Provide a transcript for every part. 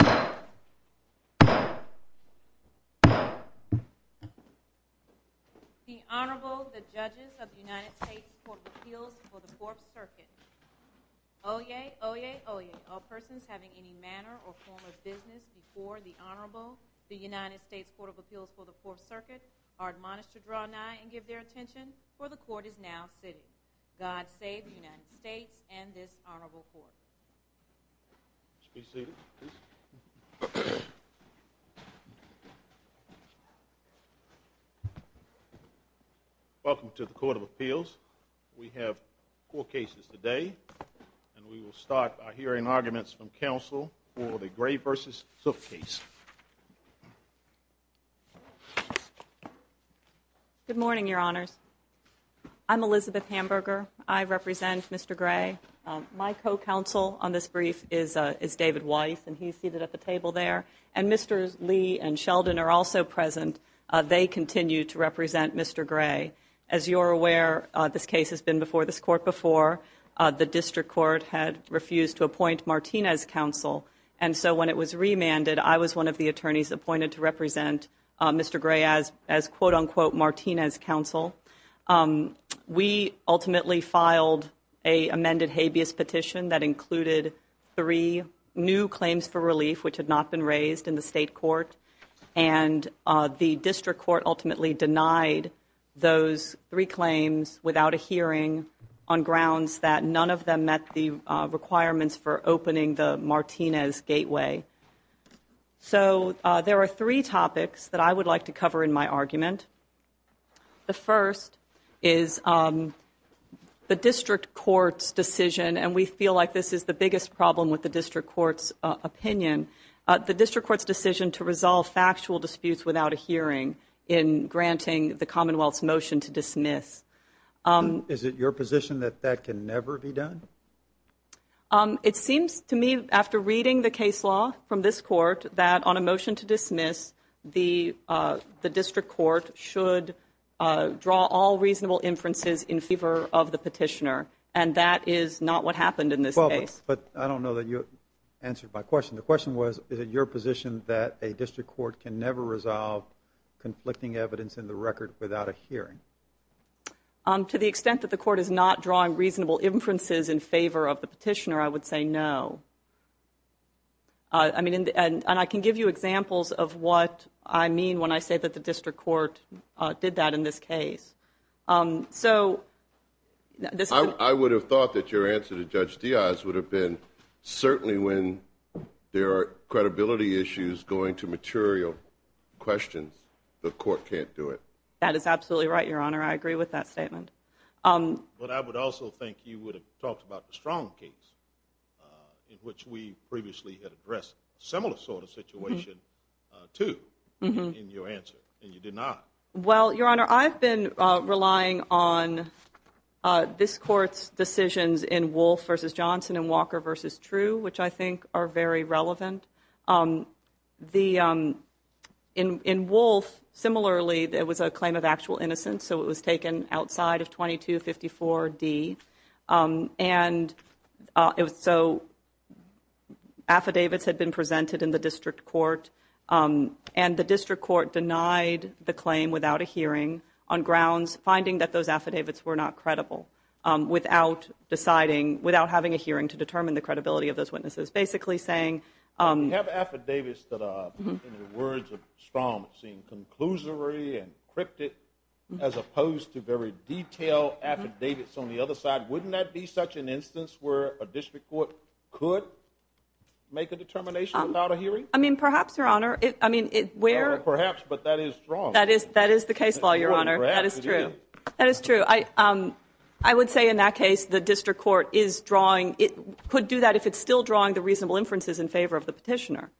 The Honorable, the Judges of the United States Court of Appeals for the Fourth Circuit. Oyez! Oyez! Oyez! All persons having any manner or form of business before the Honorable, the United States Court of Appeals for the Fourth Circuit, are admonished to draw nigh and give their attention, for the Court is now sitting. God save the United States and this Honorable Court. Please be seated. Welcome to the Court of Appeals. We have four cases today and we will start by hearing arguments from counsel for the Gray v. Zook case. Good morning, Your Honors. I'm Elizabeth Hamburger. I represent Mr. Gray. My co-counsel on this brief is David Weiss, and he's seated at the table there. And Mr. Lee and Sheldon are also present. They continue to represent Mr. Gray. As you're aware, this case has been before this Court before. The District Court had refused to appoint Martinez counsel, and so when it was remanded, I was one of the attorneys appointed to represent Mr. Gray as, quote-unquote, Martinez counsel. We ultimately filed an amended habeas petition that included three new claims for relief, which had not been raised in the State Court, and the District Court ultimately denied those three claims without a hearing on grounds that none of them met the requirements for opening the Martinez gateway. So there are three topics that I would like to cover in my argument. The first is the District Court's decision, and we feel like this is the biggest problem with the District Court's opinion, the District Court's decision to resolve factual disputes without a hearing in granting the Commonwealth's motion to dismiss. Is it your position that that can never be done? It seems to me, after reading the case law from this Court, that on a motion to dismiss, the District Court should draw all reasonable inferences in favor of the petitioner, and that is not what happened in this case. But I don't know that you answered my question. The question was, is it your position that a District Court can never resolve conflicting evidence in the record without a hearing? To the extent that the Court is not drawing reasonable inferences in favor of the petitioner, I would say no. And I can give you examples of what I mean when I say that the District Court did that in this case. I would have thought that your answer to Judge Diaz would have been, certainly when there are credibility issues going to material questions, the Court can't do it. That is absolutely right, Your Honor. I agree with that statement. But I would also think you would have talked about the Strong case, in which we previously had addressed a similar sort of situation, too, in your answer, and you did not. Well, Your Honor, I've been relying on this Court's decisions in Wolfe v. Johnson and Walker v. True, which I think are very relevant. In Wolfe, similarly, there was a claim of actual innocence, so it was taken outside of 2254D. And so affidavits had been presented in the District Court, and the District Court denied the claim without a hearing on grounds, finding that those affidavits were not credible, without deciding, without having a hearing to determine the credibility of those witnesses. You have affidavits that, in the words of Strong, seem conclusory and cryptic, as opposed to very detailed affidavits on the other side. Wouldn't that be such an instance where a District Court could make a determination without a hearing? I mean, perhaps, Your Honor. Perhaps, but that is wrong. That is the case law, Your Honor. That is true. I would say, in that case, the District Court could do that if it's still drawing the reasonable inferences in favor of the petitioner,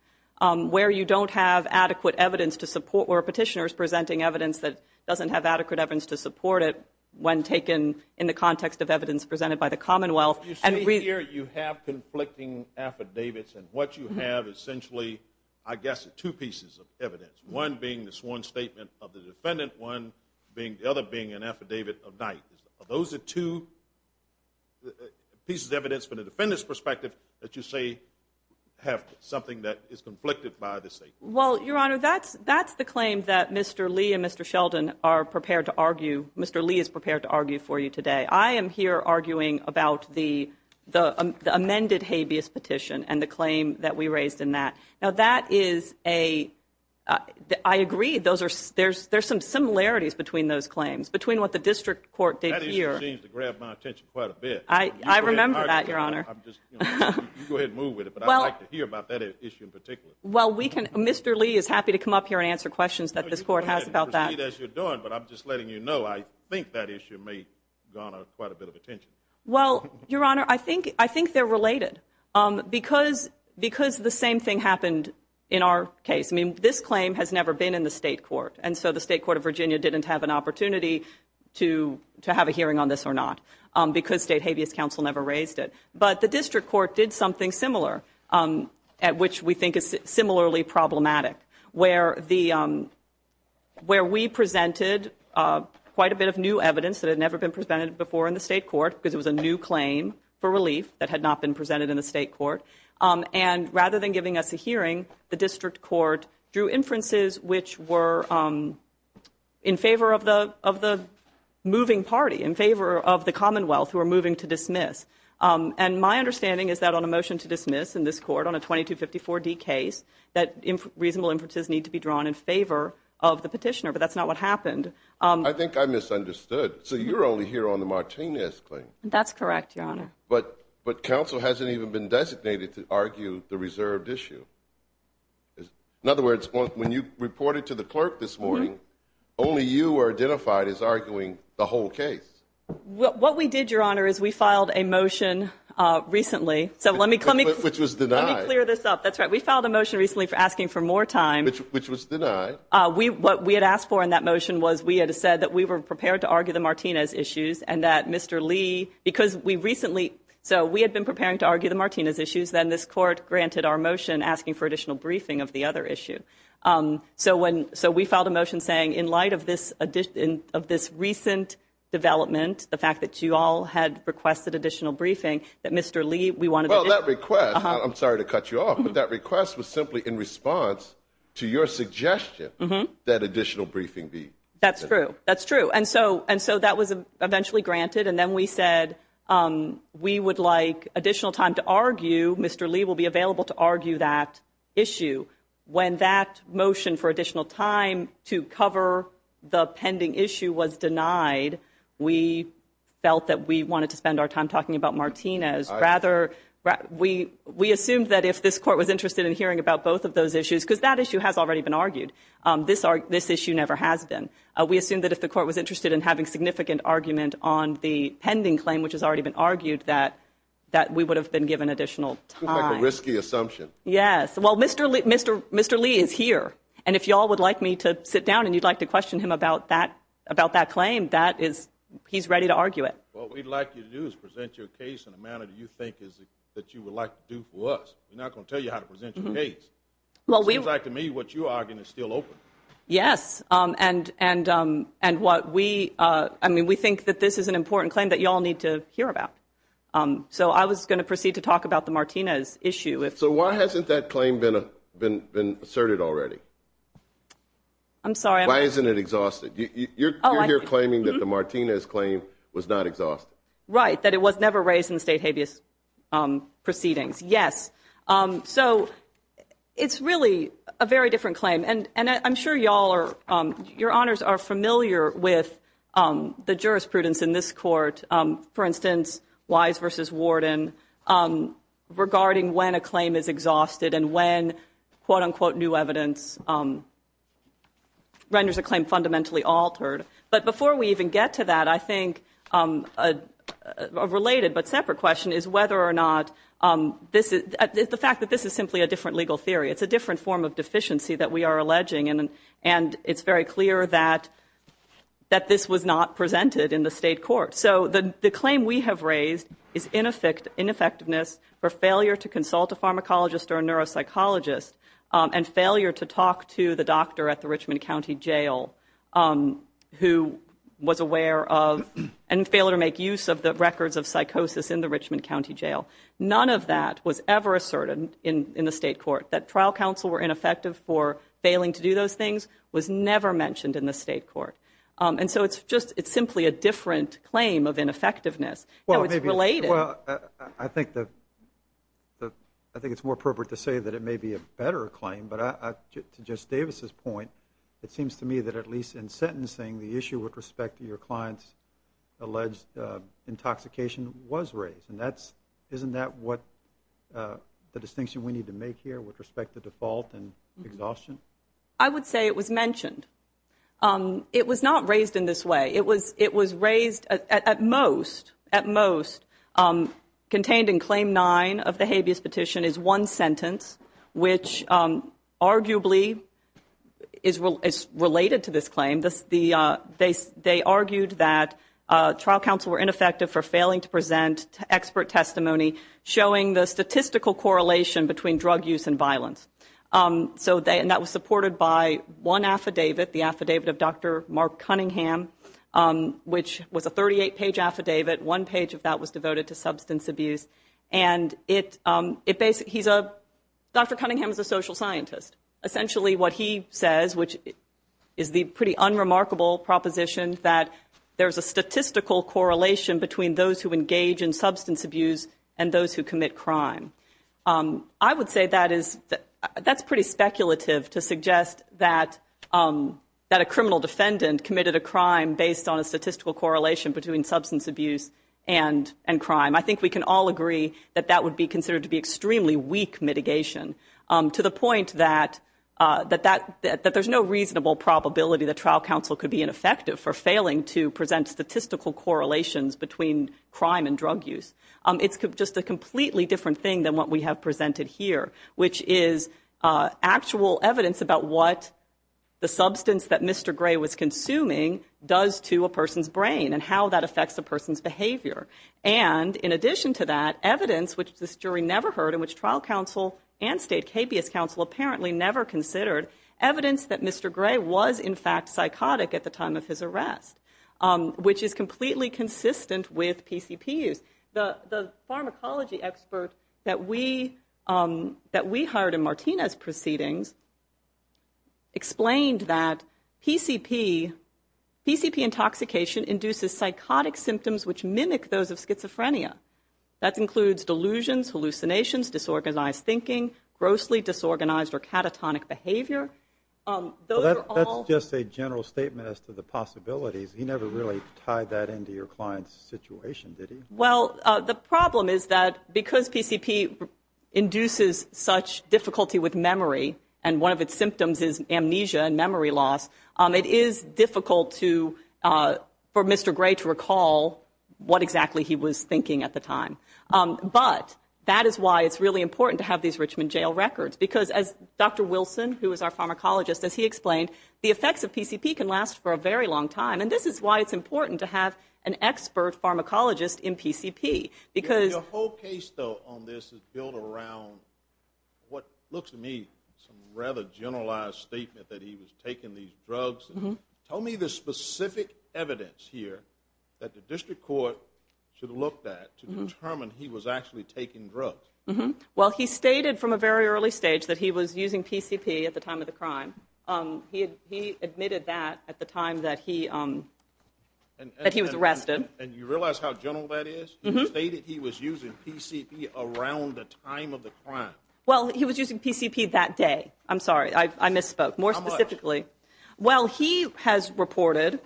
where you don't have adequate evidence to support, where a petitioner is presenting evidence that doesn't have adequate evidence to support it when taken in the context of evidence presented by the Commonwealth. You say here you have conflicting affidavits, and what you have, essentially, I guess, are two pieces of evidence, one being the sworn statement of the defendant, one being the other being an affidavit of night. Are those the two pieces of evidence from the defendant's perspective that you say have something that is conflicted by the statement? Well, Your Honor, that's the claim that Mr. Lee and Mr. Sheldon are prepared to argue. Mr. Lee is prepared to argue for you today. I am here arguing about the amended habeas petition and the claim that we raised in that. Now, that is a, I agree, there's some similarities between those claims, between what the District Court did here. That issue seems to grab my attention quite a bit. I remember that, Your Honor. You go ahead and move with it, but I'd like to hear about that issue in particular. Well, Mr. Lee is happy to come up here and answer questions that this Court has about that. You can proceed as you're doing, but I'm just letting you know, I think that issue may garner quite a bit of attention. Well, Your Honor, I think they're related. Because the same thing happened in our case. I mean, this claim has never been in the State Court, and so the State Court of Virginia didn't have an opportunity to have a hearing on this or not because State Habeas Council never raised it. But the District Court did something similar, at which we think is similarly problematic, where we presented quite a bit of new evidence that had never been presented before in the State Court because it was a new claim for relief that had not been presented in the State Court. And rather than giving us a hearing, the District Court drew inferences which were in favor of the moving party, in favor of the Commonwealth who are moving to dismiss. And my understanding is that on a motion to dismiss in this Court on a 2254D case, that reasonable inferences need to be drawn in favor of the petitioner, but that's not what happened. I think I misunderstood. So you're only here on the Martinez claim. That's correct, Your Honor. But counsel hasn't even been designated to argue the reserved issue. In other words, when you reported to the clerk this morning, only you were identified as arguing the whole case. What we did, Your Honor, is we filed a motion recently. Which was denied. Let me clear this up. That's right. We filed a motion recently for asking for more time. Which was denied. What we had asked for in that motion was we had said that we were prepared to argue the Martinez issues, and that Mr. Lee, because we recently, so we had been preparing to argue the Martinez issues, then this Court granted our motion asking for additional briefing of the other issue. So we filed a motion saying, in light of this recent development, the fact that you all had requested additional briefing, that Mr. Lee, we wanted to. Well, that request, I'm sorry to cut you off, but that request was simply in response to your suggestion that additional briefing be. That's true. That's true. And so that was eventually granted, and then we said we would like additional time to argue, Mr. Lee will be available to argue that issue. When that motion for additional time to cover the pending issue was denied, we felt that we wanted to spend our time talking about Martinez. Rather, we assumed that if this Court was interested in hearing about both of those issues, because that issue has already been argued. This issue never has been. We assumed that if the Court was interested in having significant argument on the pending claim, which has already been argued, that we would have been given additional time. Seems like a risky assumption. Yes. Well, Mr. Lee is here, and if you all would like me to sit down and you'd like to question him about that claim, he's ready to argue it. What we'd like you to do is present your case in a manner that you think you would like to do for us. We're not going to tell you how to present your case. Seems like to me what you're arguing is still open. Yes, and we think that this is an important claim that you all need to hear about. So I was going to proceed to talk about the Martinez issue. So why hasn't that claim been asserted already? I'm sorry. Why isn't it exhausted? You're here claiming that the Martinez claim was not exhausted. Right, that it was never raised in the state habeas proceedings. Yes. So it's really a very different claim. And I'm sure you all are, your Honors, are familiar with the jurisprudence in this Court, and when quote-unquote new evidence renders a claim fundamentally altered. But before we even get to that, I think a related but separate question is whether or not this is, the fact that this is simply a different legal theory. It's a different form of deficiency that we are alleging, and it's very clear that this was not presented in the state court. So the claim we have raised is ineffectiveness for failure to consult a pharmacologist or a neuropsychologist and failure to talk to the doctor at the Richmond County Jail who was aware of and failed to make use of the records of psychosis in the Richmond County Jail. None of that was ever asserted in the state court, that trial counsel were ineffective for failing to do those things was never mentioned in the state court. And so it's just, it's simply a different claim of ineffectiveness, and it's related. Well, I think it's more appropriate to say that it may be a better claim, but to Justice Davis's point, it seems to me that at least in sentencing, the issue with respect to your client's alleged intoxication was raised. And isn't that what the distinction we need to make here with respect to default and exhaustion? I would say it was mentioned. It was not raised in this way. It was raised, at most, contained in Claim 9 of the habeas petition is one sentence, which arguably is related to this claim. They argued that trial counsel were ineffective for failing to present expert testimony, and that was supported by one affidavit, the affidavit of Dr. Mark Cunningham, which was a 38-page affidavit. One page of that was devoted to substance abuse. And Dr. Cunningham is a social scientist. Essentially what he says, which is the pretty unremarkable proposition, that there's a statistical correlation between those who engage in substance abuse and those who commit crime. I would say that's pretty speculative to suggest that a criminal defendant committed a crime based on a statistical correlation between substance abuse and crime. I think we can all agree that that would be considered to be extremely weak mitigation, to the point that there's no reasonable probability that trial counsel could be ineffective for failing to present statistical correlations between crime and drug use. It's just a completely different thing than what we have presented here, which is actual evidence about what the substance that Mr. Gray was consuming does to a person's brain and how that affects a person's behavior. And in addition to that, evidence, which this jury never heard, and which trial counsel and state habeas counsel apparently never considered, evidence that Mr. Gray was, in fact, psychotic at the time of his arrest, which is completely consistent with PCP use. The pharmacology expert that we hired in Martina's proceedings explained that PCP intoxication induces psychotic symptoms which mimic those of schizophrenia. That includes delusions, hallucinations, disorganized thinking, grossly disorganized or catatonic behavior. That's just a general statement as to the possibilities. He never really tied that into your client's situation, did he? Well, the problem is that because PCP induces such difficulty with memory, and one of its symptoms is amnesia and memory loss, it is difficult for Mr. Gray to recall what exactly he was thinking at the time. But that is why it's really important to have these Richmond Jail records, because as Dr. Wilson, who is our pharmacologist, as he explained, the effects of PCP can last for a very long time. And this is why it's important to have an expert pharmacologist in PCP. Your whole case, though, on this is built around what looks to me some rather generalized statement that he was taking these drugs. Tell me the specific evidence here that the district court should have looked at to determine he was actually taking drugs. Well, he stated from a very early stage that he was using PCP at the time of the crime. He admitted that at the time that he was arrested. And you realize how general that is? He stated he was using PCP around the time of the crime. Well, he was using PCP that day. I'm sorry, I misspoke. How much? More specifically. Well, he has reported,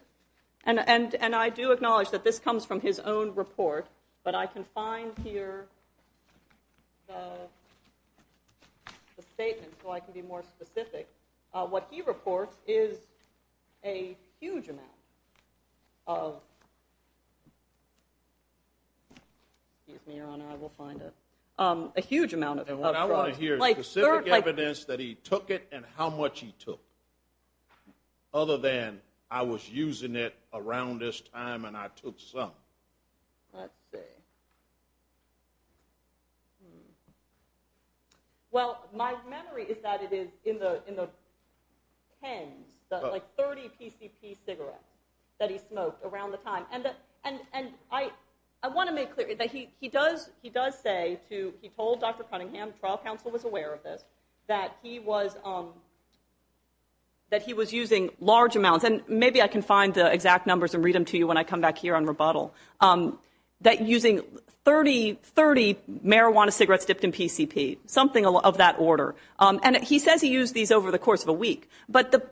and I do acknowledge that this comes from his own report, but I can find here the statement so I can be more specific. What he reports is a huge amount of drugs. And what I want to hear is specific evidence that he took it and how much he took, other than I was using it around this time and I took some. Let's see. Well, my memory is that it is in the tens, like 30 PCP cigarettes that he smoked around the time. And I want to make clear that he does say, he told Dr. Cunningham, the trial counsel was aware of this, that he was using large amounts. And maybe I can find the exact numbers and read them to you when I come back here on rebuttal. That using 30 marijuana cigarettes dipped in PCP, something of that order. And he says he used these over the course of a week. But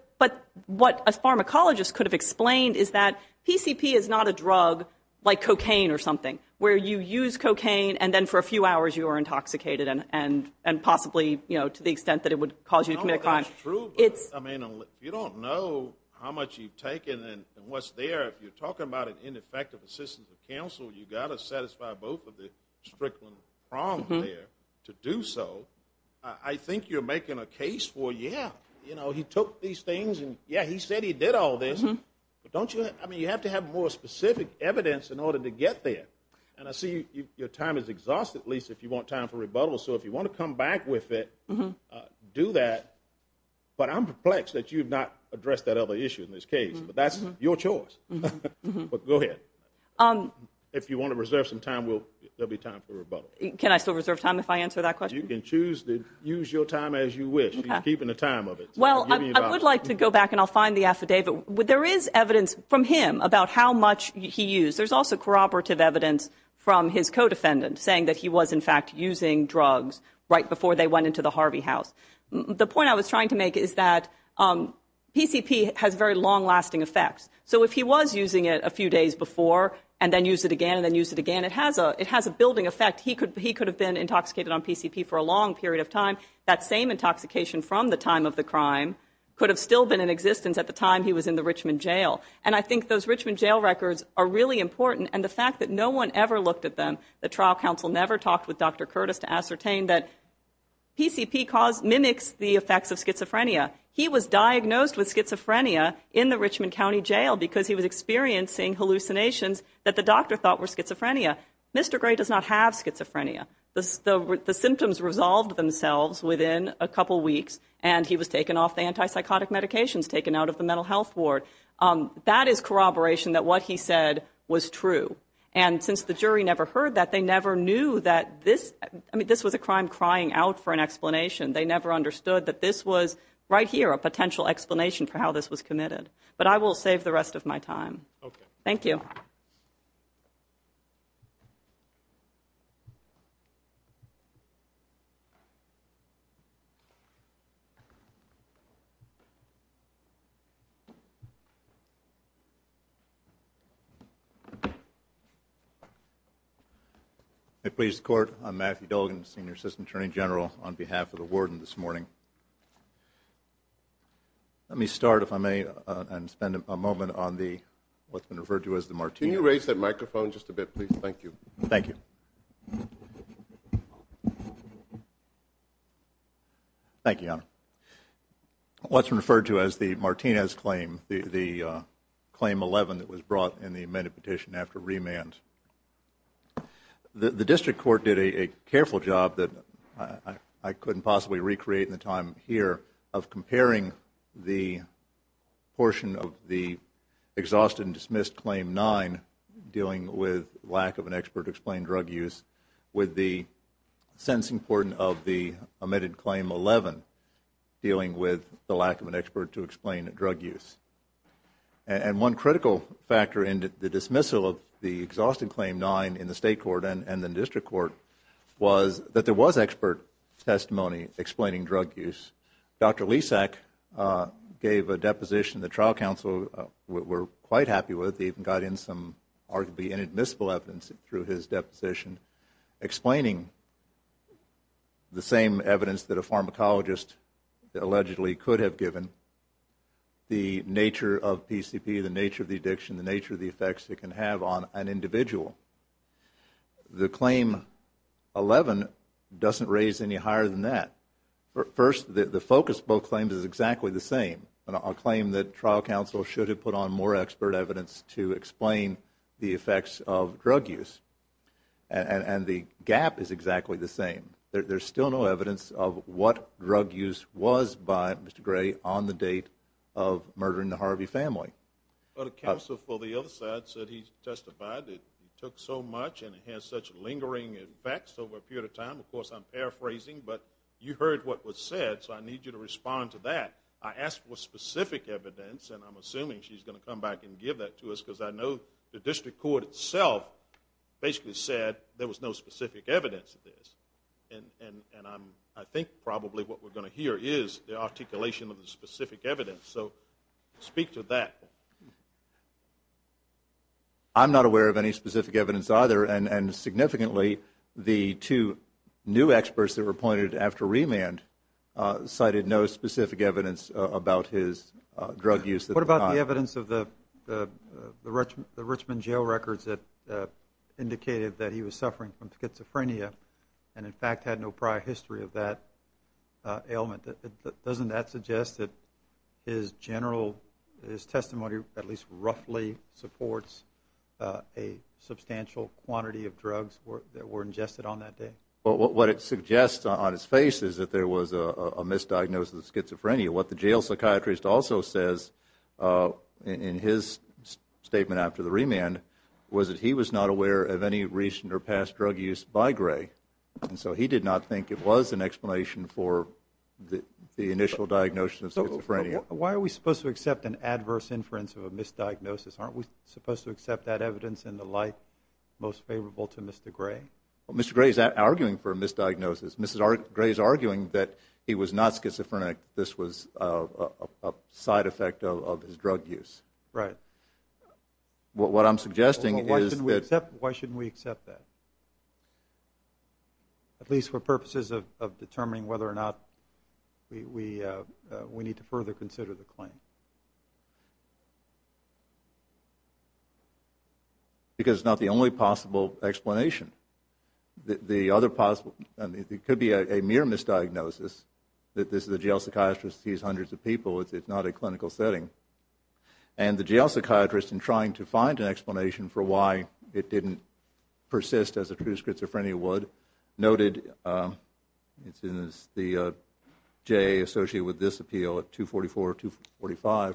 what a pharmacologist could have explained is that PCP is not a drug like cocaine or something, where you use cocaine and then for a few hours you are intoxicated and possibly to the extent that it would cause you to commit a crime. That's true, but if you don't know how much you've taken and what's there, if you're talking about an ineffective assistance of counsel, you've got to satisfy both of the strickland prongs there to do so. I think you're making a case for, yeah, he took these things and, yeah, he said he did all this. But you have to have more specific evidence in order to get there. And I see your time is exhausted, Lisa, if you want time for rebuttal. So if you want to come back with it, do that. But I'm perplexed that you've not addressed that other issue in this case. But that's your choice. But go ahead. If you want to reserve some time, there will be time for rebuttal. Can I still reserve time if I answer that question? You can choose to use your time as you wish. He's keeping the time of it. Well, I would like to go back and I'll find the affidavit. There is evidence from him about how much he used. There's also corroborative evidence from his co-defendant saying that he was, in fact, using drugs right before they went into the Harvey house. The point I was trying to make is that PCP has very long-lasting effects. So if he was using it a few days before and then used it again and then used it again, it has a building effect. He could have been intoxicated on PCP for a long period of time. That same intoxication from the time of the crime could have still been in existence at the time he was in the Richmond jail. And I think those Richmond jail records are really important, and the fact that no one ever looked at them, the trial counsel never talked with Dr. Curtis to ascertain that PCP mimics the effects of schizophrenia. He was diagnosed with schizophrenia in the Richmond County jail because he was experiencing hallucinations that the doctor thought were schizophrenia. Mr. Gray does not have schizophrenia. The symptoms resolved themselves within a couple weeks, and he was taken off the antipsychotic medications, taken out of the mental health ward. That is corroboration that what he said was true. And since the jury never heard that, they never knew that this was a crime crying out for an explanation. They never understood that this was, right here, a potential explanation for how this was committed. But I will save the rest of my time. Thank you. Matthew Dolgan, Senior Assistant Attorney General, on behalf of the warden this morning. Let me start, if I may, and spend a moment on what's been referred to as the martini. Can you raise that microphone just a bit, please? Thank you. Thank you. Thank you, Your Honor. What's referred to as the Martinez claim, the Claim 11 that was brought in the amended petition after remand. The district court did a careful job that I couldn't possibly recreate in the time here of comparing the portion of the exhausted and dismissed Claim 9, dealing with lack of an expert to explain drug use, with the sentencing portion of the amended Claim 11, dealing with the lack of an expert to explain drug use. And one critical factor in the dismissal of the exhausted Claim 9 in the state court and in the district court was that there was expert testimony explaining drug use. Dr. Lisak gave a deposition. The trial counsel, we're quite happy with, even got in some arguably inadmissible evidence through his deposition explaining the same evidence that a pharmacologist allegedly could have given, the nature of PCP, the nature of the addiction, the nature of the effects it can have on an individual. The Claim 11 doesn't raise any higher than that. First, the focus of both claims is exactly the same. A claim that trial counsel should have put on more expert evidence to explain the effects of drug use. And the gap is exactly the same. There's still no evidence of what drug use was by Mr. Gray on the date of murdering the Harvey family. But a counsel for the other side said he testified that it took so much and it has such lingering effects over a period of time. Of course, I'm paraphrasing, but you heard what was said, so I need you to respond to that. I asked for specific evidence, and I'm assuming she's going to come back and give that to us, because I know the district court itself basically said there was no specific evidence of this. And I think probably what we're going to hear is the articulation of the specific evidence. So speak to that. I'm not aware of any specific evidence either, and significantly the two new experts that were appointed after remand cited no specific evidence about his drug use. What about the evidence of the Richmond jail records that indicated that he was suffering from schizophrenia and, in fact, had no prior history of that ailment? Doesn't that suggest that his testimony at least roughly supports a substantial quantity of drugs that were ingested on that day? What it suggests on his face is that there was a misdiagnosis of schizophrenia. What the jail psychiatrist also says in his statement after the remand was that he was not aware of any recent or past drug use by Gray. And so he did not think it was an explanation for the initial diagnosis of schizophrenia. Why are we supposed to accept an adverse inference of a misdiagnosis? Aren't we supposed to accept that evidence in the light most favorable to Mr. Gray? Mr. Gray is arguing for a misdiagnosis. Mr. Gray is arguing that he was not schizophrenic, this was a side effect of his drug use. Right. What I'm suggesting is that- Why shouldn't we accept that? At least for purposes of determining whether or not we need to further consider the claim. Because it's not the only possible explanation. The other possible, it could be a mere misdiagnosis, that this is a jail psychiatrist, he's hundreds of people, it's not a clinical setting. And the jail psychiatrist, in trying to find an explanation for why it didn't persist as a true schizophrenia would, noted, as the JA associated with this appeal at 244-245,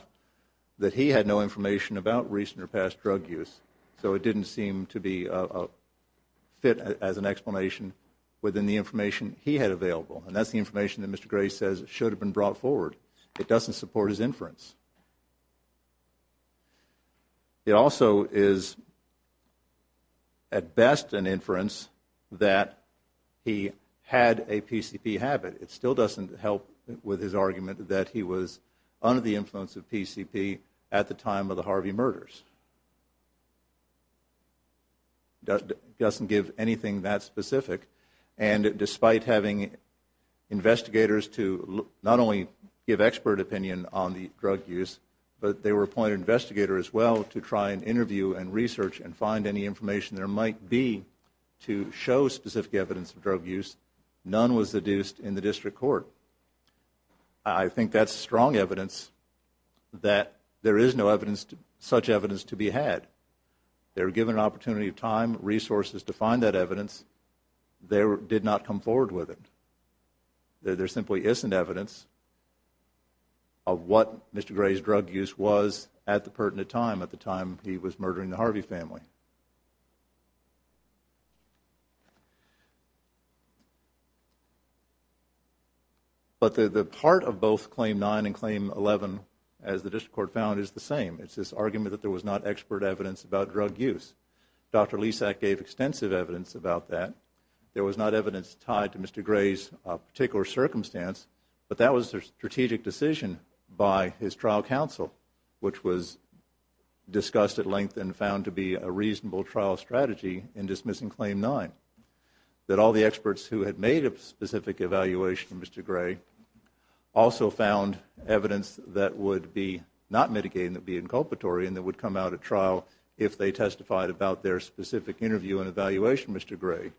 that he had no information about recent or past drug use. So it didn't seem to be fit as an explanation within the information he had available. And that's the information that Mr. Gray says should have been brought forward. It doesn't support his inference. It also is, at best, an inference that he had a PCP habit. It still doesn't help with his argument that he was under the influence of PCP at the time of the Harvey murders. Doesn't give anything that specific. And despite having investigators to not only give expert opinion on the drug use, but they were appointed investigators as well to try and interview and research and find any information there might be to show specific evidence of drug use, none was deduced in the district court. I think that's strong evidence that there is no evidence, such evidence, to be had. They were given an opportunity of time, resources to find that evidence. They did not come forward with it. There simply isn't evidence of what Mr. Gray's drug use was at the pertinent time, at the time he was murdering the Harvey family. But the part of both Claim 9 and Claim 11, as the district court found, is the same. It's this argument that there was not expert evidence about drug use. Dr. Lesak gave extensive evidence about that. There was not evidence tied to Mr. Gray's particular circumstance, but that was a strategic decision by his trial counsel, which was discussed at length and found to be a reasonable trial strategy in dismissing Claim 9. That all the experts who had made a specific evaluation of Mr. Gray also found evidence that would be not mitigated and that would be inculpatory and that would come out at trial if they testified about their specific interview and evaluation of Mr. Gray.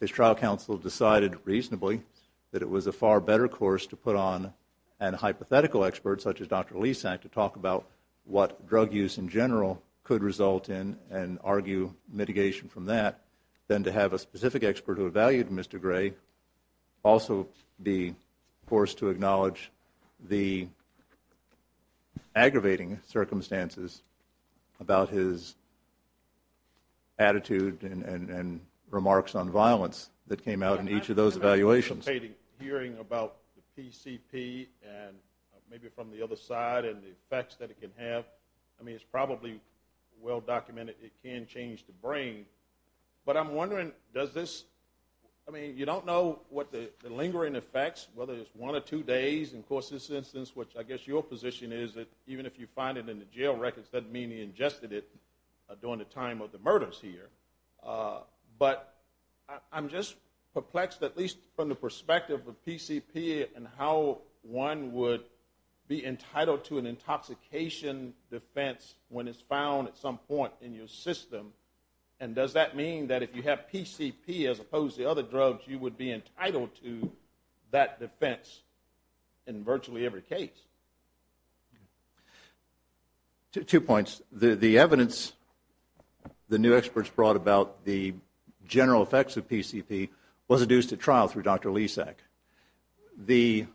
His trial counsel decided reasonably that it was a far better course to put on a hypothetical expert such as Dr. Lesak to talk about what drug use in general could result in and argue mitigation from that than to have a specific expert who evaluated Mr. Gray also be forced to acknowledge the aggravating circumstances about his attitude and remarks on violence that came out in each of those evaluations. Hearing about the PCP and maybe from the other side and the effects that it can have, I mean, it's probably well documented it can change the brain. But I'm wondering does this, I mean, you don't know what the lingering effects, whether it's one or two days, and of course this instance, which I guess your position is, that even if you find it in the jail records, that doesn't mean he ingested it during the time of the murders here. But I'm just perplexed at least from the perspective of PCP and how one would be entitled to an intoxication defense when it's found at some point in your system. And does that mean that if you have PCP as opposed to other drugs, you would be entitled to that defense in virtually every case? Two points. The evidence the new experts brought about the general effects of PCP was adduced at trial through Dr. Lesak. The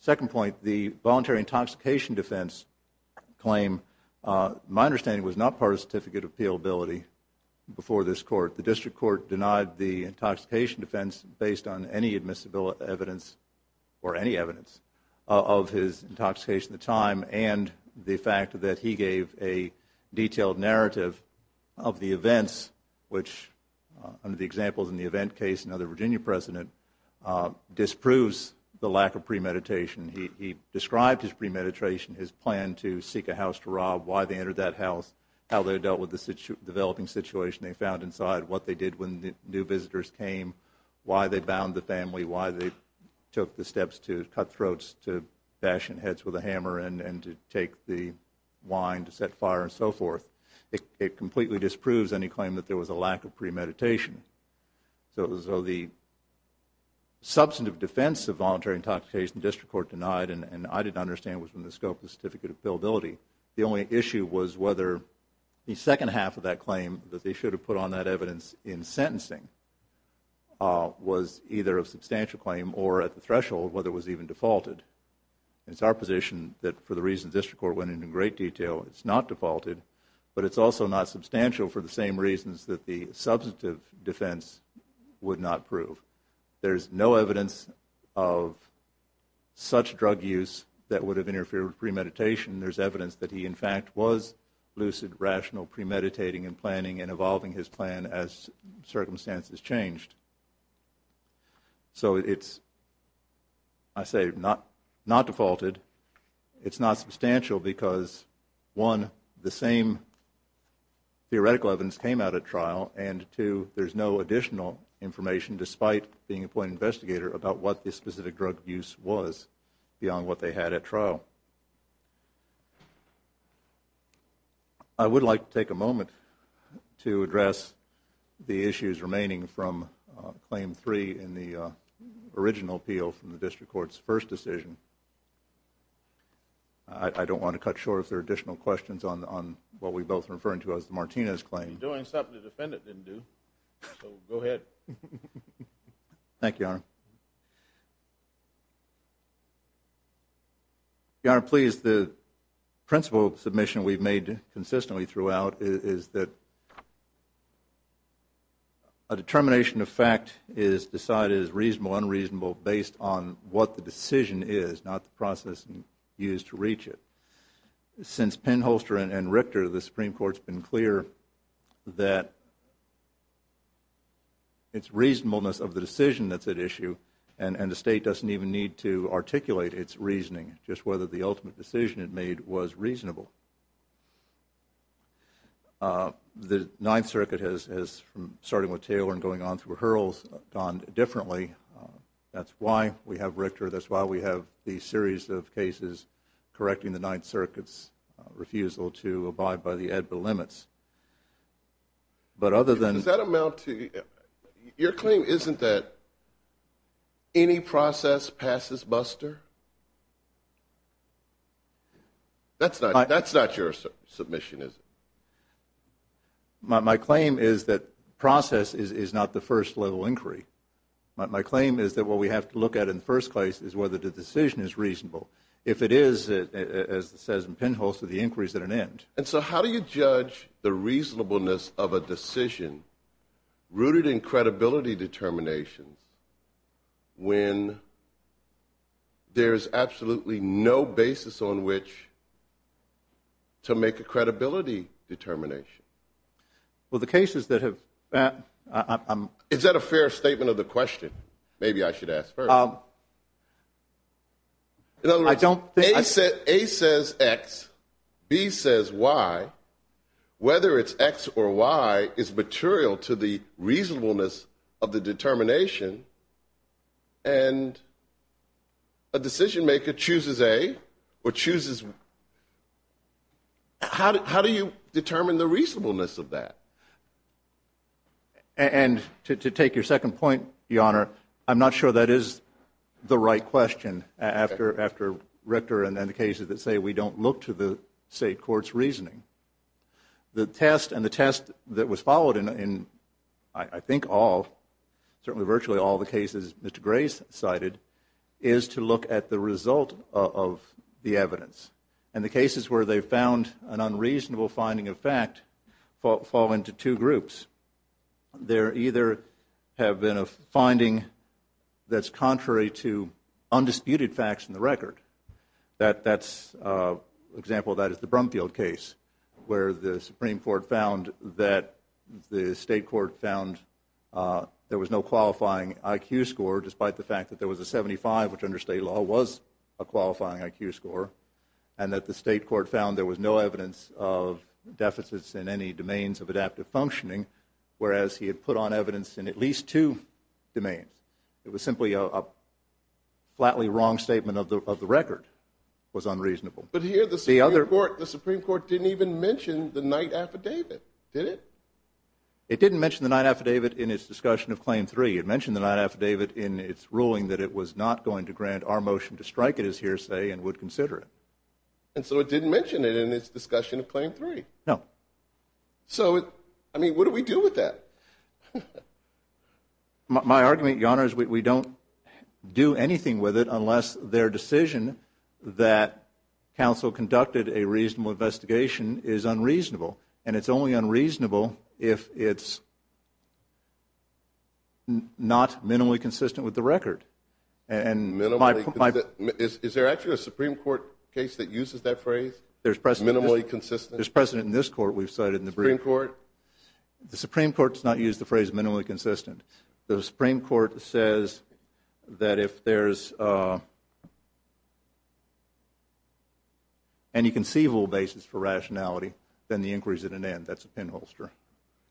second point, the voluntary intoxication defense claim, my understanding was not part of the certificate of appealability before this court. The district court denied the intoxication defense based on any admissible evidence or any evidence of his intoxication at the time and the fact that he gave a detailed narrative of the events, which under the examples in the event case, another Virginia president, disproves the lack of premeditation. He described his premeditation, his plan to seek a house to rob, why they entered that house, how they dealt with the developing situation they found inside, what they did when new visitors came, why they bound the family, why they took the steps to cut throats, to bash in heads with a hammer, and to take the wine, to set fire and so forth. It completely disproves any claim that there was a lack of premeditation. So the substantive defense of voluntary intoxication, the district court denied, and I didn't understand it was from the scope of the certificate of appealability. The only issue was whether the second half of that claim, that they should have put on that evidence in sentencing, was either a substantial claim or at the threshold, whether it was even defaulted. It's our position that for the reasons the district court went into in great detail, it's not defaulted, but it's also not substantial for the same reasons that the substantive defense would not prove. There's no evidence of such drug use that would have interfered with premeditation. There's evidence that he in fact was lucid, rational, premeditating and planning and evolving his plan as circumstances changed. So it's, I say, not defaulted. It's not substantial because, one, the same theoretical evidence came out at trial, and two, there's no additional information, despite being a point investigator, about what this specific drug use was beyond what they had at trial. I would like to take a moment to address the issues remaining from Claim 3 in the original appeal from the district court's first decision. I don't want to cut short if there are additional questions on what we're both referring to as the Martinez claim. You're doing something the defendant didn't do, so go ahead. Thank you, Your Honor. Your Honor, please, the principal submission we've made consistently throughout is that a determination of fact is decided as reasonable, unreasonable based on what the decision is, not the process used to reach it. Since Penholster and Richter, the Supreme Court's been clear that its reasonableness of the decision that's at issue and the State doesn't even need to articulate its reasoning, just whether the ultimate decision it made was reasonable. The Ninth Circuit has, starting with Taylor and going on through Hurls, gone differently. That's why we have Richter. That's why we have these series of cases correcting the Ninth Circuit's refusal to abide by the AEDPA limits. But other than... Does that amount to, your claim isn't that any process passes buster? That's not your submission, is it? My claim is that process is not the first level inquiry. My claim is that what we have to look at in the first place is whether the decision is reasonable. If it is, as it says in Penholster, the inquiry is at an end. And so how do you judge the reasonableness of a decision rooted in credibility determinations when there is absolutely no basis on which to make a credibility determination? Well, the cases that have... Is that a fair statement of the question? Maybe I should ask first. In other words, A says X, B says Y. Whether it's X or Y is material to the reasonableness of the determination. And a decisionmaker chooses A or chooses... How do you determine the reasonableness of that? And to take your second point, Your Honor, I'm not sure that is the right question after Richter and then the cases that say we don't look to the state court's reasoning. The test and the test that was followed in I think all, certainly virtually all the cases Mr. Gray cited, is to look at the result of the evidence. And the cases where they found an unreasonable finding of fact fall into two groups. There either have been a finding that's contrary to undisputed facts in the record. That's an example of that is the Brumfield case where the Supreme Court found that... The state court found there was no qualifying IQ score despite the fact that there was a 75, which under state law was a qualifying IQ score, and that the state court found there was no evidence of deficits in any domains of adaptive functioning, whereas he had put on evidence in at least two domains. It was simply a flatly wrong statement of the record. It was unreasonable. But here the Supreme Court didn't even mention the night affidavit, did it? It didn't mention the night affidavit in its discussion of Claim 3. It mentioned the night affidavit in its ruling that it was not going to grant our motion to strike it as hearsay and would consider it. And so it didn't mention it in its discussion of Claim 3? No. So, I mean, what do we do with that? My argument, Your Honor, is we don't do anything with it unless their decision that counsel conducted a reasonable investigation is unreasonable. And it's only unreasonable if it's not minimally consistent with the record. Is there actually a Supreme Court case that uses that phrase, minimally consistent? There's precedent in this court we've cited in the brief. The Supreme Court? The Supreme Court does not use the phrase minimally consistent. The Supreme Court says that if there's any conceivable basis for rationality, then the inquiry is at an end. That's a pinholster.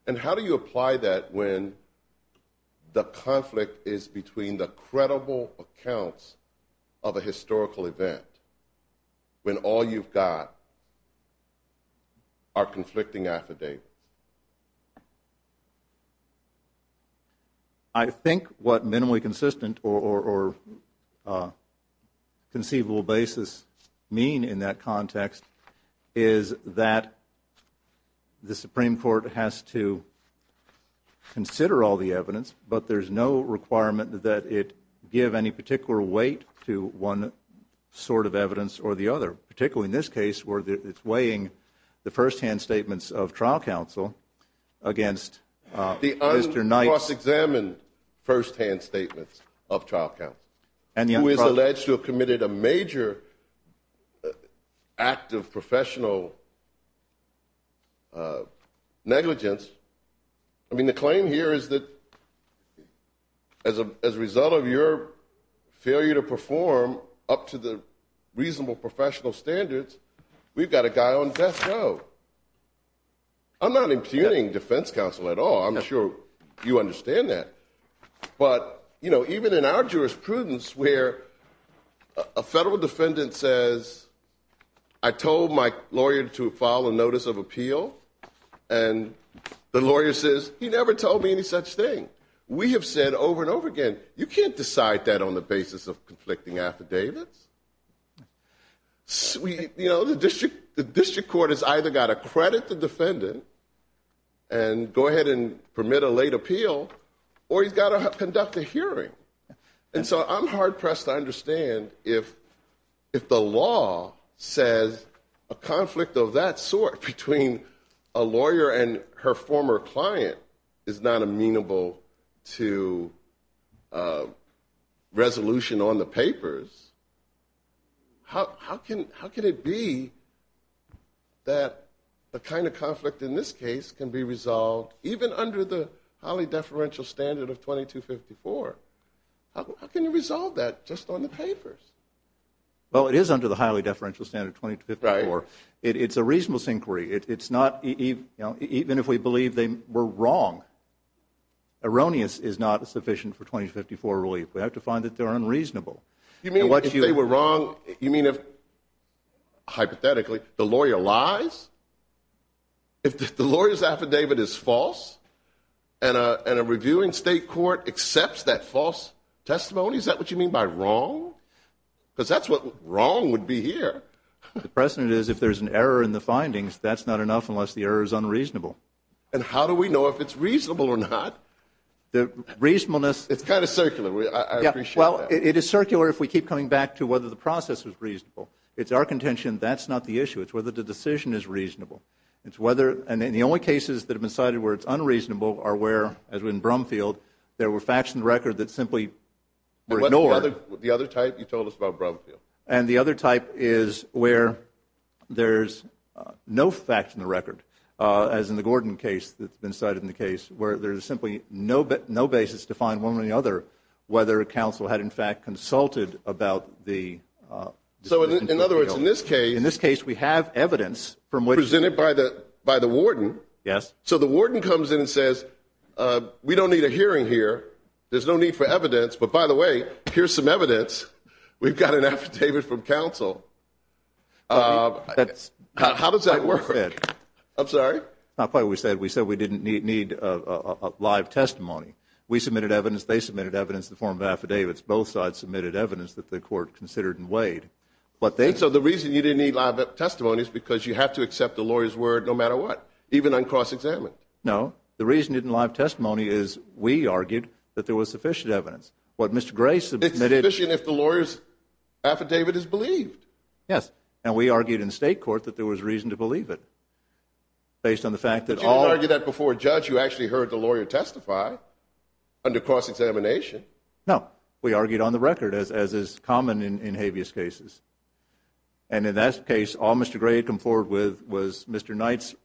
And how do you apply that when the conflict is between the credible accounts of a historical event, when all you've got are conflicting affidavits? I think what minimally consistent or conceivable basis mean in that context is that the Supreme Court has to consider all the evidence, but there's no requirement that it give any particular weight to one sort of evidence or the other, particularly in this case where it's weighing the firsthand statements of trial counsel against Mr. Knight's. The uncross-examined firsthand statements of trial counsel, who is alleged to have committed a major act of professional negligence. I mean, the claim here is that as a result of your failure to perform up to the reasonable professional standards, we've got a guy on death row. I'm not impugning defense counsel at all. I'm sure you understand that. But even in our jurisprudence where a federal defendant says, I told my lawyer to file a notice of appeal, and the lawyer says, he never told me any such thing. We have said over and over again, you can't decide that on the basis of conflicting affidavits. You know, the district court has either got to credit the defendant and go ahead and permit a late appeal, or he's got to conduct a hearing. And so I'm hard-pressed to understand if the law says a conflict of that sort between a lawyer and her former client is not amenable to resolution on the papers, how can it be that the kind of conflict in this case can be resolved even under the highly deferential standard of 2254? How can you resolve that just on the papers? Well, it is under the highly deferential standard of 2254. It's a reasonable inquiry. Even if we believe they were wrong, erroneous is not sufficient for 2254 relief. We have to find that they're unreasonable. You mean if they were wrong, you mean if, hypothetically, the lawyer lies? If the lawyer's affidavit is false, and a reviewing state court accepts that false testimony, is that what you mean by wrong? Because that's what wrong would be here. The precedent is if there's an error in the findings, that's not enough unless the error is unreasonable. And how do we know if it's reasonable or not? The reasonableness... It's kind of circular. I appreciate that. Well, it is circular if we keep coming back to whether the process was reasonable. It's our contention that's not the issue. It's whether the decision is reasonable. And the only cases that have been cited where it's unreasonable are where, as in Brumfield, there were facts in the record that simply were ignored. What's the other type you told us about Brumfield? And the other type is where there's no facts in the record, as in the Gordon case that's been cited in the case, where there's simply no basis to find one way or the other whether counsel had, in fact, consulted about the... So, in other words, in this case... In this case, we have evidence from which... Presented by the warden. Yes. So the warden comes in and says, we don't need a hearing here. There's no need for evidence. But, by the way, here's some evidence. We've got an affidavit from counsel. How does that work? I'm sorry? Not quite what we said. We said we didn't need live testimony. We submitted evidence. They submitted evidence in the form of affidavits. Both sides submitted evidence that the court considered and weighed. So the reason you didn't need live testimony is because you have to accept the lawyer's word no matter what, even uncross-examined. No. The reason you didn't need live testimony is we argued that there was sufficient evidence. What Mr. Gray submitted... It's sufficient if the lawyer's affidavit is believed. Yes. And we argued in state court that there was reason to believe it. But you didn't argue that before a judge. You actually heard the lawyer testify under cross-examination. No. We argued on the record, as is common in habeas cases. And in that case, all Mr. Gray had come forward with was Mr. Knight's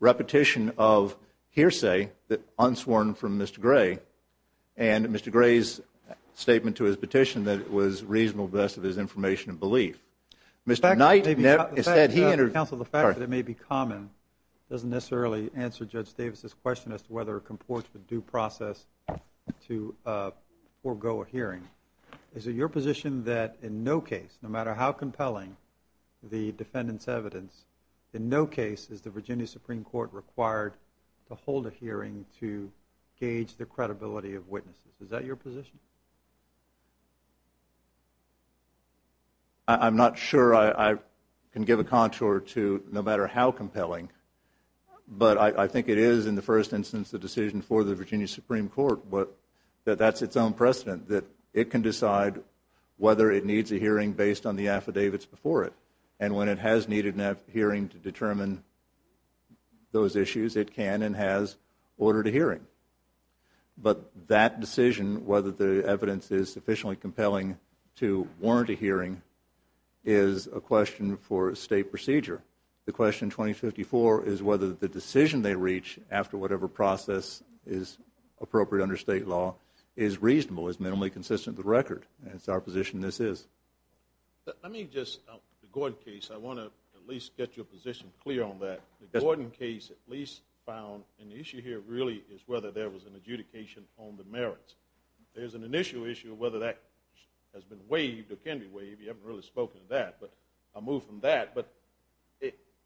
repetition of hearsay unsworn from Mr. Gray and Mr. Gray's statement to his petition that it was reasonable because of his information and belief. Mr. Knight said he... Counsel, the fact that it may be common doesn't necessarily answer Judge Davis's question as to whether it comports with due process to forego a hearing. Is it your position that in no case, no matter how compelling the defendant's evidence, in no case is the Virginia Supreme Court required to hold a hearing to gauge the credibility of witnesses? Is that your position? I'm not sure I can give a contour to no matter how compelling, but I think it is, in the first instance, the decision for the Virginia Supreme Court, but that's its own precedent that it can decide whether it needs a hearing based on the affidavits before it. And when it has needed a hearing to determine those issues, it can and has ordered a hearing. But that decision, whether the evidence is sufficiently compelling to warrant a hearing, is a question for state procedure. The question in 2054 is whether the decision they reach after whatever process is appropriate under state law is reasonable, is minimally consistent with the record, and it's our position this is. Let me just, the Gordon case, I want to at least get your position clear on that. The Gordon case at least found an issue here really is whether there was an adjudication on the merits. There's an initial issue of whether that has been waived or can be waived. You haven't really spoken to that, but I'll move from that. But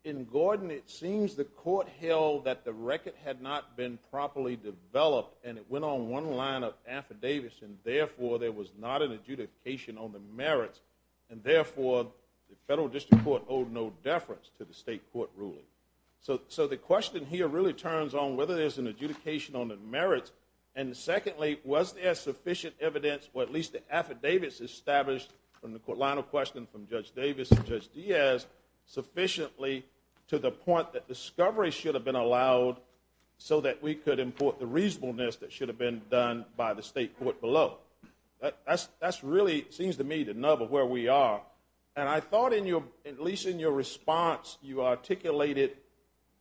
in Gordon, it seems the court held that the record had not been properly developed, and it went on one line of affidavits, and therefore there was not an adjudication on the merits, and therefore the federal district court owed no deference to the state court ruling. So the question here really turns on whether there's an adjudication on the merits, and secondly, was there sufficient evidence, or at least the affidavits established from the line of questioning from Judge Davis and Judge Diaz, sufficiently to the point that discovery should have been allowed so that we could import the reasonableness that should have been done by the state court below. That really seems to me the nub of where we are. And I thought at least in your response you articulated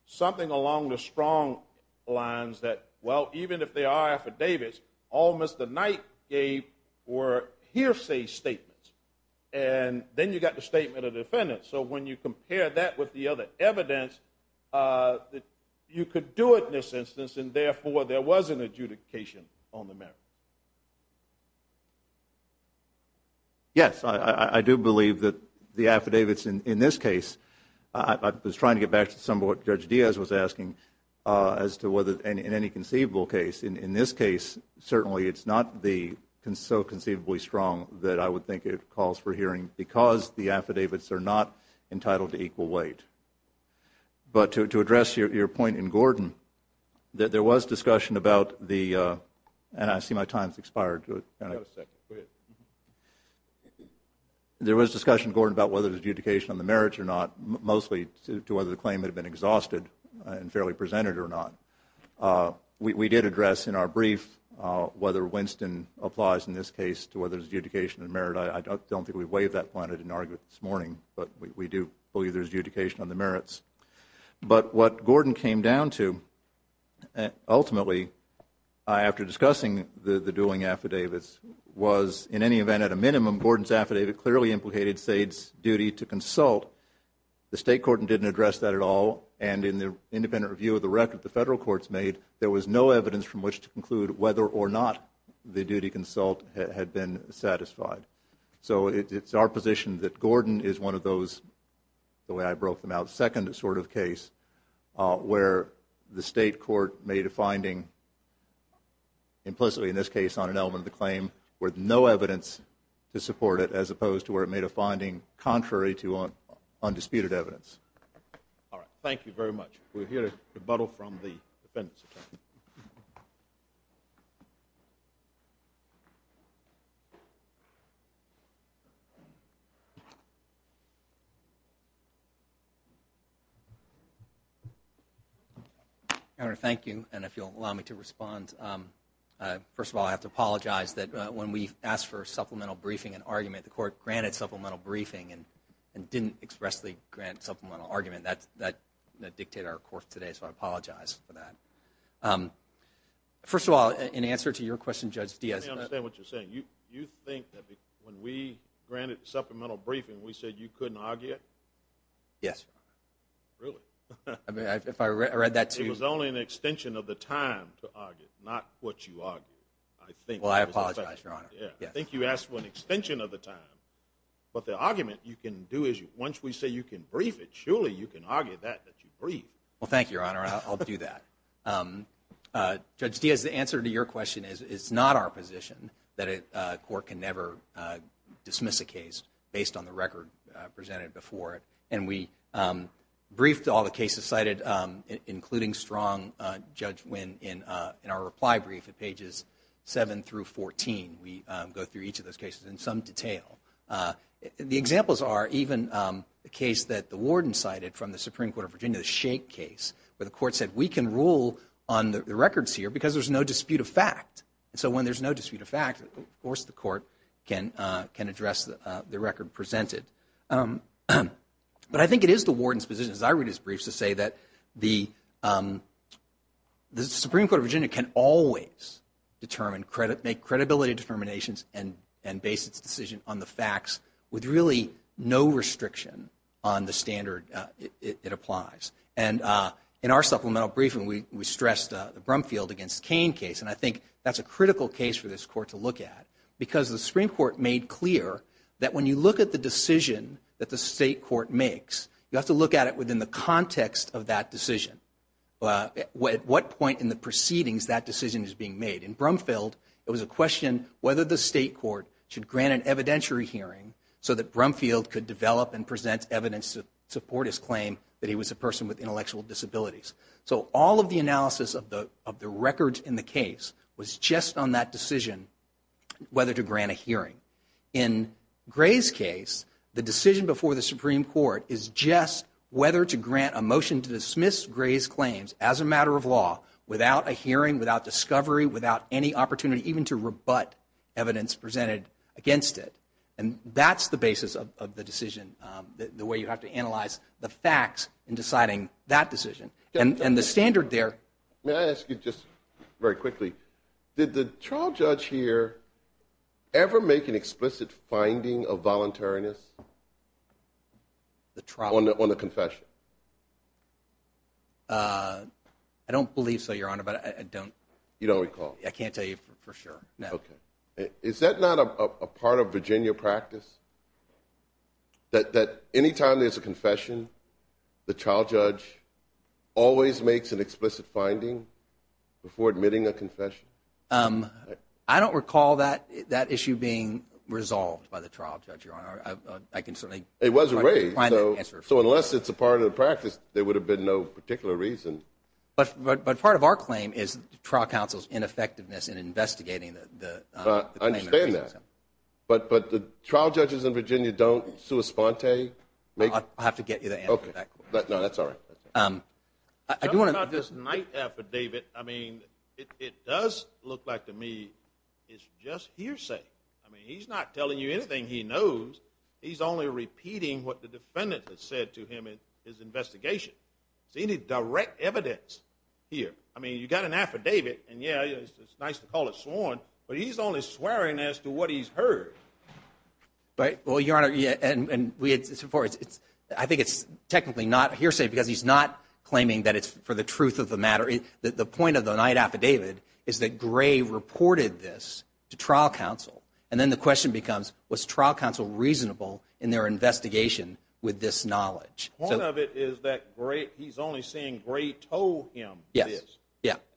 something along the strong lines that, well, even if they are affidavits, all Mr. Knight gave were hearsay statements, and then you got the statement of defendants. So when you compare that with the other evidence, you could do it in this instance, and therefore there was an adjudication on the merits. Yes, I do believe that the affidavits in this case, I was trying to get back to some of what Judge Diaz was asking as to whether in any conceivable case, in this case certainly it's not so conceivably strong that I would think it calls for hearing because the affidavits are not entitled to equal weight. But to address your point in Gordon, that there was discussion about the, and I see my time has expired. Can I have a second? Go ahead. There was discussion, Gordon, about whether there was adjudication on the merits or not, mostly to whether the claim had been exhausted and fairly presented or not. We did address in our brief whether Winston applies in this case to whether there's adjudication on merit. I don't think we've waived that point. I didn't argue it this morning, but we do believe there's adjudication on the merits. But what Gordon came down to, ultimately, after discussing the dueling affidavits, was in any event at a minimum Gordon's affidavit clearly implicated SAID's duty to consult. The State Court didn't address that at all, and in the independent review of the record the Federal Courts made, there was no evidence from which to conclude whether or not the duty consult had been satisfied. So it's our position that Gordon is one of those, the way I broke them out, second sort of case where the State Court made a finding implicitly in this case on an element of the claim with no evidence to support it as opposed to where it made a finding contrary to undisputed evidence. All right. Thank you very much. We'll hear a rebuttal from the defendants. Governor, thank you. And if you'll allow me to respond, first of all, I have to apologize that when we asked for supplemental briefing and argument, the Court granted supplemental briefing and didn't expressly grant supplemental argument. That dictated our court today, so I apologize for that. First of all, in answer to your question, Judge Diaz. Let me understand what you're saying. You think that when we granted supplemental briefing we said you couldn't argue it? Yes, Your Honor. Really? I mean, if I read that to you. It was only an extension of the time to argue, not what you argued. Well, I apologize, Your Honor. I think you asked for an extension of the time, but the argument you can do is once we say you can brief it, surely you can argue that that you briefed. Well, thank you, Your Honor. I'll do that. Judge Diaz, the answer to your question is it's not our position that a court can never dismiss a case based on the record presented before it. And we briefed all the cases cited, including strong Judge Wynn, in our reply brief at pages 7 through 14. We go through each of those cases in some detail. The examples are even the case that the warden cited from the Supreme Court of Virginia, the Shake case, where the court said we can rule on the records here because there's no dispute of fact. So when there's no dispute of fact, of course the court can address the record presented. But I think it is the warden's position, as I read his briefs, to say that the Supreme Court of Virginia can always make credibility determinations and base its decision on the facts with really no restriction on the standard it applies. And in our supplemental briefing, we stressed the Brumfield v. Cain case, and I think that's a critical case for this court to look at because the Supreme Court made clear that when you look at the decision that the state court makes, you have to look at it within the context of that decision. At what point in the proceedings that decision is being made. In Brumfield, it was a question whether the state court should grant an evidentiary hearing so that Brumfield could develop and present evidence to support his claim that he was a person with intellectual disabilities. So all of the analysis of the records in the case was just on that decision whether to grant a hearing. In Gray's case, the decision before the Supreme Court is just whether to grant a motion to dismiss Gray's claims as a matter of law without a hearing, without discovery, without any opportunity even to rebut evidence presented against it. And that's the basis of the decision, the way you have to analyze the facts in deciding that decision. And the standard there. May I ask you just very quickly, did the trial judge here ever make an explicit finding of voluntariness? On the confession? I don't believe so, Your Honor, but I don't. You don't recall? I can't tell you for sure, no. Okay. Is that not a part of Virginia practice? That any time there's a confession, the trial judge always makes an explicit finding before admitting a confession? I don't recall that issue being resolved by the trial judge, Your Honor. It was raised, so unless it's a part of the practice, there would have been no particular reason. But part of our claim is the trial counsel's ineffectiveness in investigating the claim. I understand that. But the trial judges in Virginia don't sua sponte? I'll have to get you the answer to that. No, that's all right. Talking about this night affidavit, I mean, it does look like to me it's just hearsay. I mean, he's not telling you anything he knows. He's only repeating what the defendant has said to him in his investigation. Is there any direct evidence here? I mean, you've got an affidavit, and, yeah, it's nice to call it sworn, but he's only swearing as to what he's heard. Well, Your Honor, I think it's technically not hearsay because he's not claiming that it's for the truth of the matter. The point of the night affidavit is that Gray reported this to trial counsel, and then the question becomes was trial counsel reasonable in their investigation with this knowledge? Part of it is that he's only saying Gray told him this,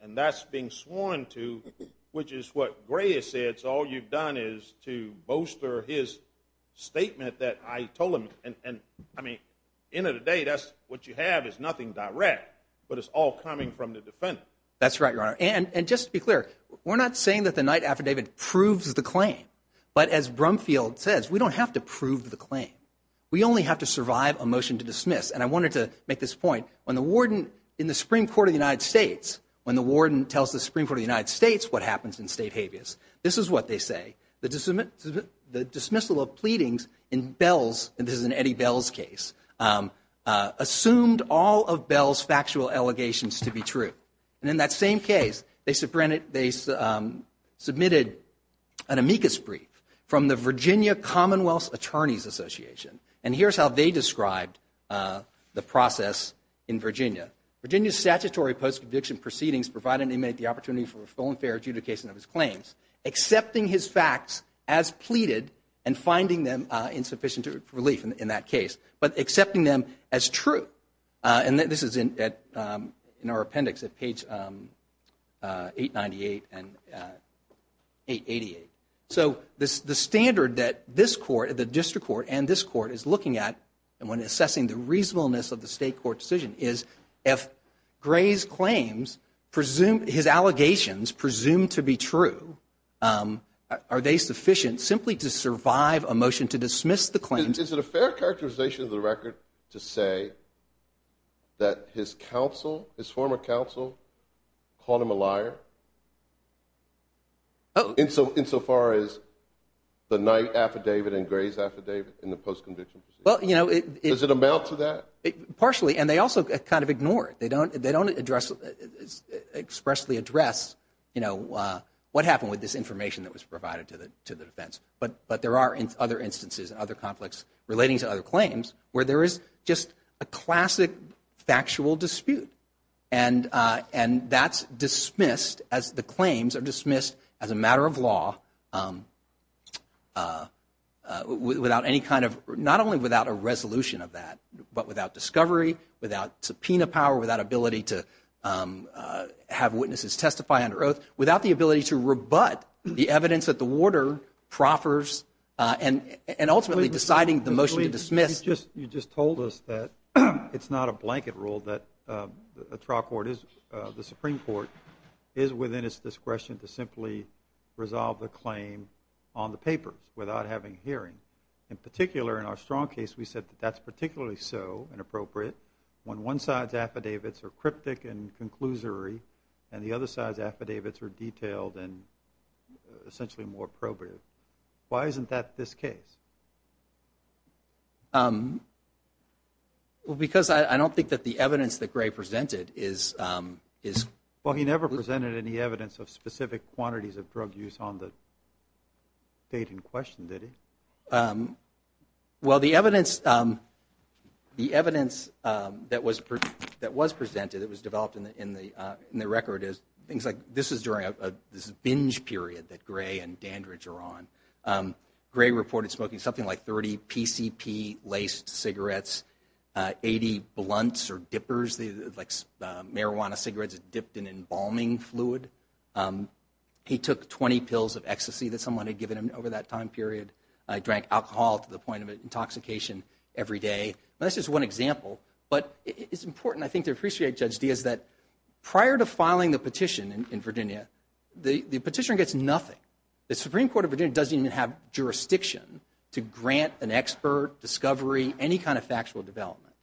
and that's being sworn to, which is what Gray has said, so all you've done is to bolster his statement that I told him. And, I mean, end of the day, that's what you have is nothing direct, but it's all coming from the defendant. That's right, Your Honor, and just to be clear, we're not saying that the night affidavit proves the claim, but as Brumfield says, we don't have to prove the claim. We only have to survive a motion to dismiss, and I wanted to make this point. When the warden in the Supreme Court of the United States, when the warden tells the Supreme Court of the United States what happens in state habeas, this is what they say. The dismissal of pleadings in Bell's, and this is an Eddie Bell's case, assumed all of Bell's factual allegations to be true. And in that same case, they submitted an amicus brief from the Virginia Commonwealth Attorney's Association, and here's how they described the process in Virginia. Virginia's statutory post-conviction proceedings provided an inmate the opportunity for a full and fair adjudication of his claims, accepting his facts as pleaded and finding them insufficient relief in that case, but accepting them as true, and this is in our appendix at page 898 and 888. So the standard that this court, the district court, and this court is looking at when assessing the reasonableness of the state court decision is if Gray's claims presume, his allegations presume to be true, are they sufficient simply to survive a motion to dismiss the claims? Is it a fair characterization of the record to say that his counsel, his former counsel, called him a liar? Oh. Insofar as the Knight affidavit and Gray's affidavit in the post-conviction proceedings? Well, you know, it – Does it amount to that? Partially, and they also kind of ignore it. They don't address, expressly address, you know, what happened with this information that was provided to the defense, but there are other instances and other conflicts relating to other claims where there is just a classic factual dispute, and that's dismissed as the claims are dismissed as a matter of law without any kind of – not only without a resolution of that, but without discovery, without subpoena power, without ability to have witnesses testify under oath, without the ability to rebut the evidence that the warder proffers, You just told us that it's not a blanket rule that a trial court is – the Supreme Court is within its discretion to simply resolve the claim on the papers without having a hearing. In particular, in our strong case, we said that that's particularly so, and appropriate, when one side's affidavits are cryptic and conclusory and the other side's affidavits are detailed and essentially more probative. Why isn't that this case? Well, because I don't think that the evidence that Gray presented is – Well, he never presented any evidence of specific quantities of drug use on the date in question, did he? Well, the evidence that was presented, that was developed in the record, is things like this is during a binge period that Gray and Dandridge are on. Gray reported smoking something like 30 PCP-laced cigarettes, 80 blunts or dippers, like marijuana cigarettes dipped in embalming fluid. He took 20 pills of ecstasy that someone had given him over that time period. He drank alcohol to the point of intoxication every day. That's just one example, but it's important, I think, to appreciate, Judge Diaz, that prior to filing the petition in Virginia, the petitioner gets nothing. The Supreme Court of Virginia doesn't even have jurisdiction to grant an expert, discovery, any kind of factual development.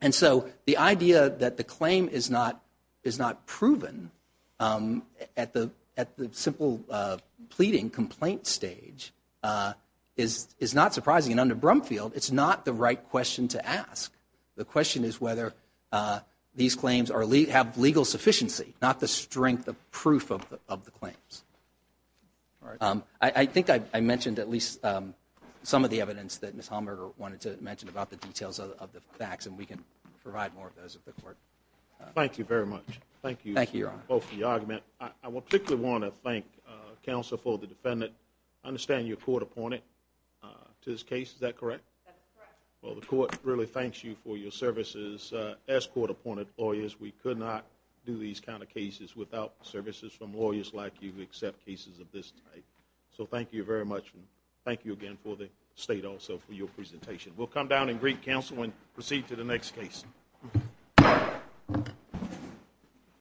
And so the idea that the claim is not proven at the simple pleading complaint stage is not surprising. And under Brumfield, it's not the right question to ask. The question is whether these claims have legal sufficiency, not the strength of proof of the claims. I think I mentioned at least some of the evidence that Ms. Hallmer wanted to mention about the details of the facts, and we can provide more of those at the court. Thank you very much. Thank you both for the argument. I particularly want to thank counsel for the defendant. I understand you're court-appointed to this case. Is that correct? That's correct. Well, the court really thanks you for your services. As court-appointed lawyers, we could not do these kind of cases without services from lawyers like you who accept cases of this type. So thank you very much, and thank you again for the state also for your presentation. We'll come down and greet counsel and proceed to the next case.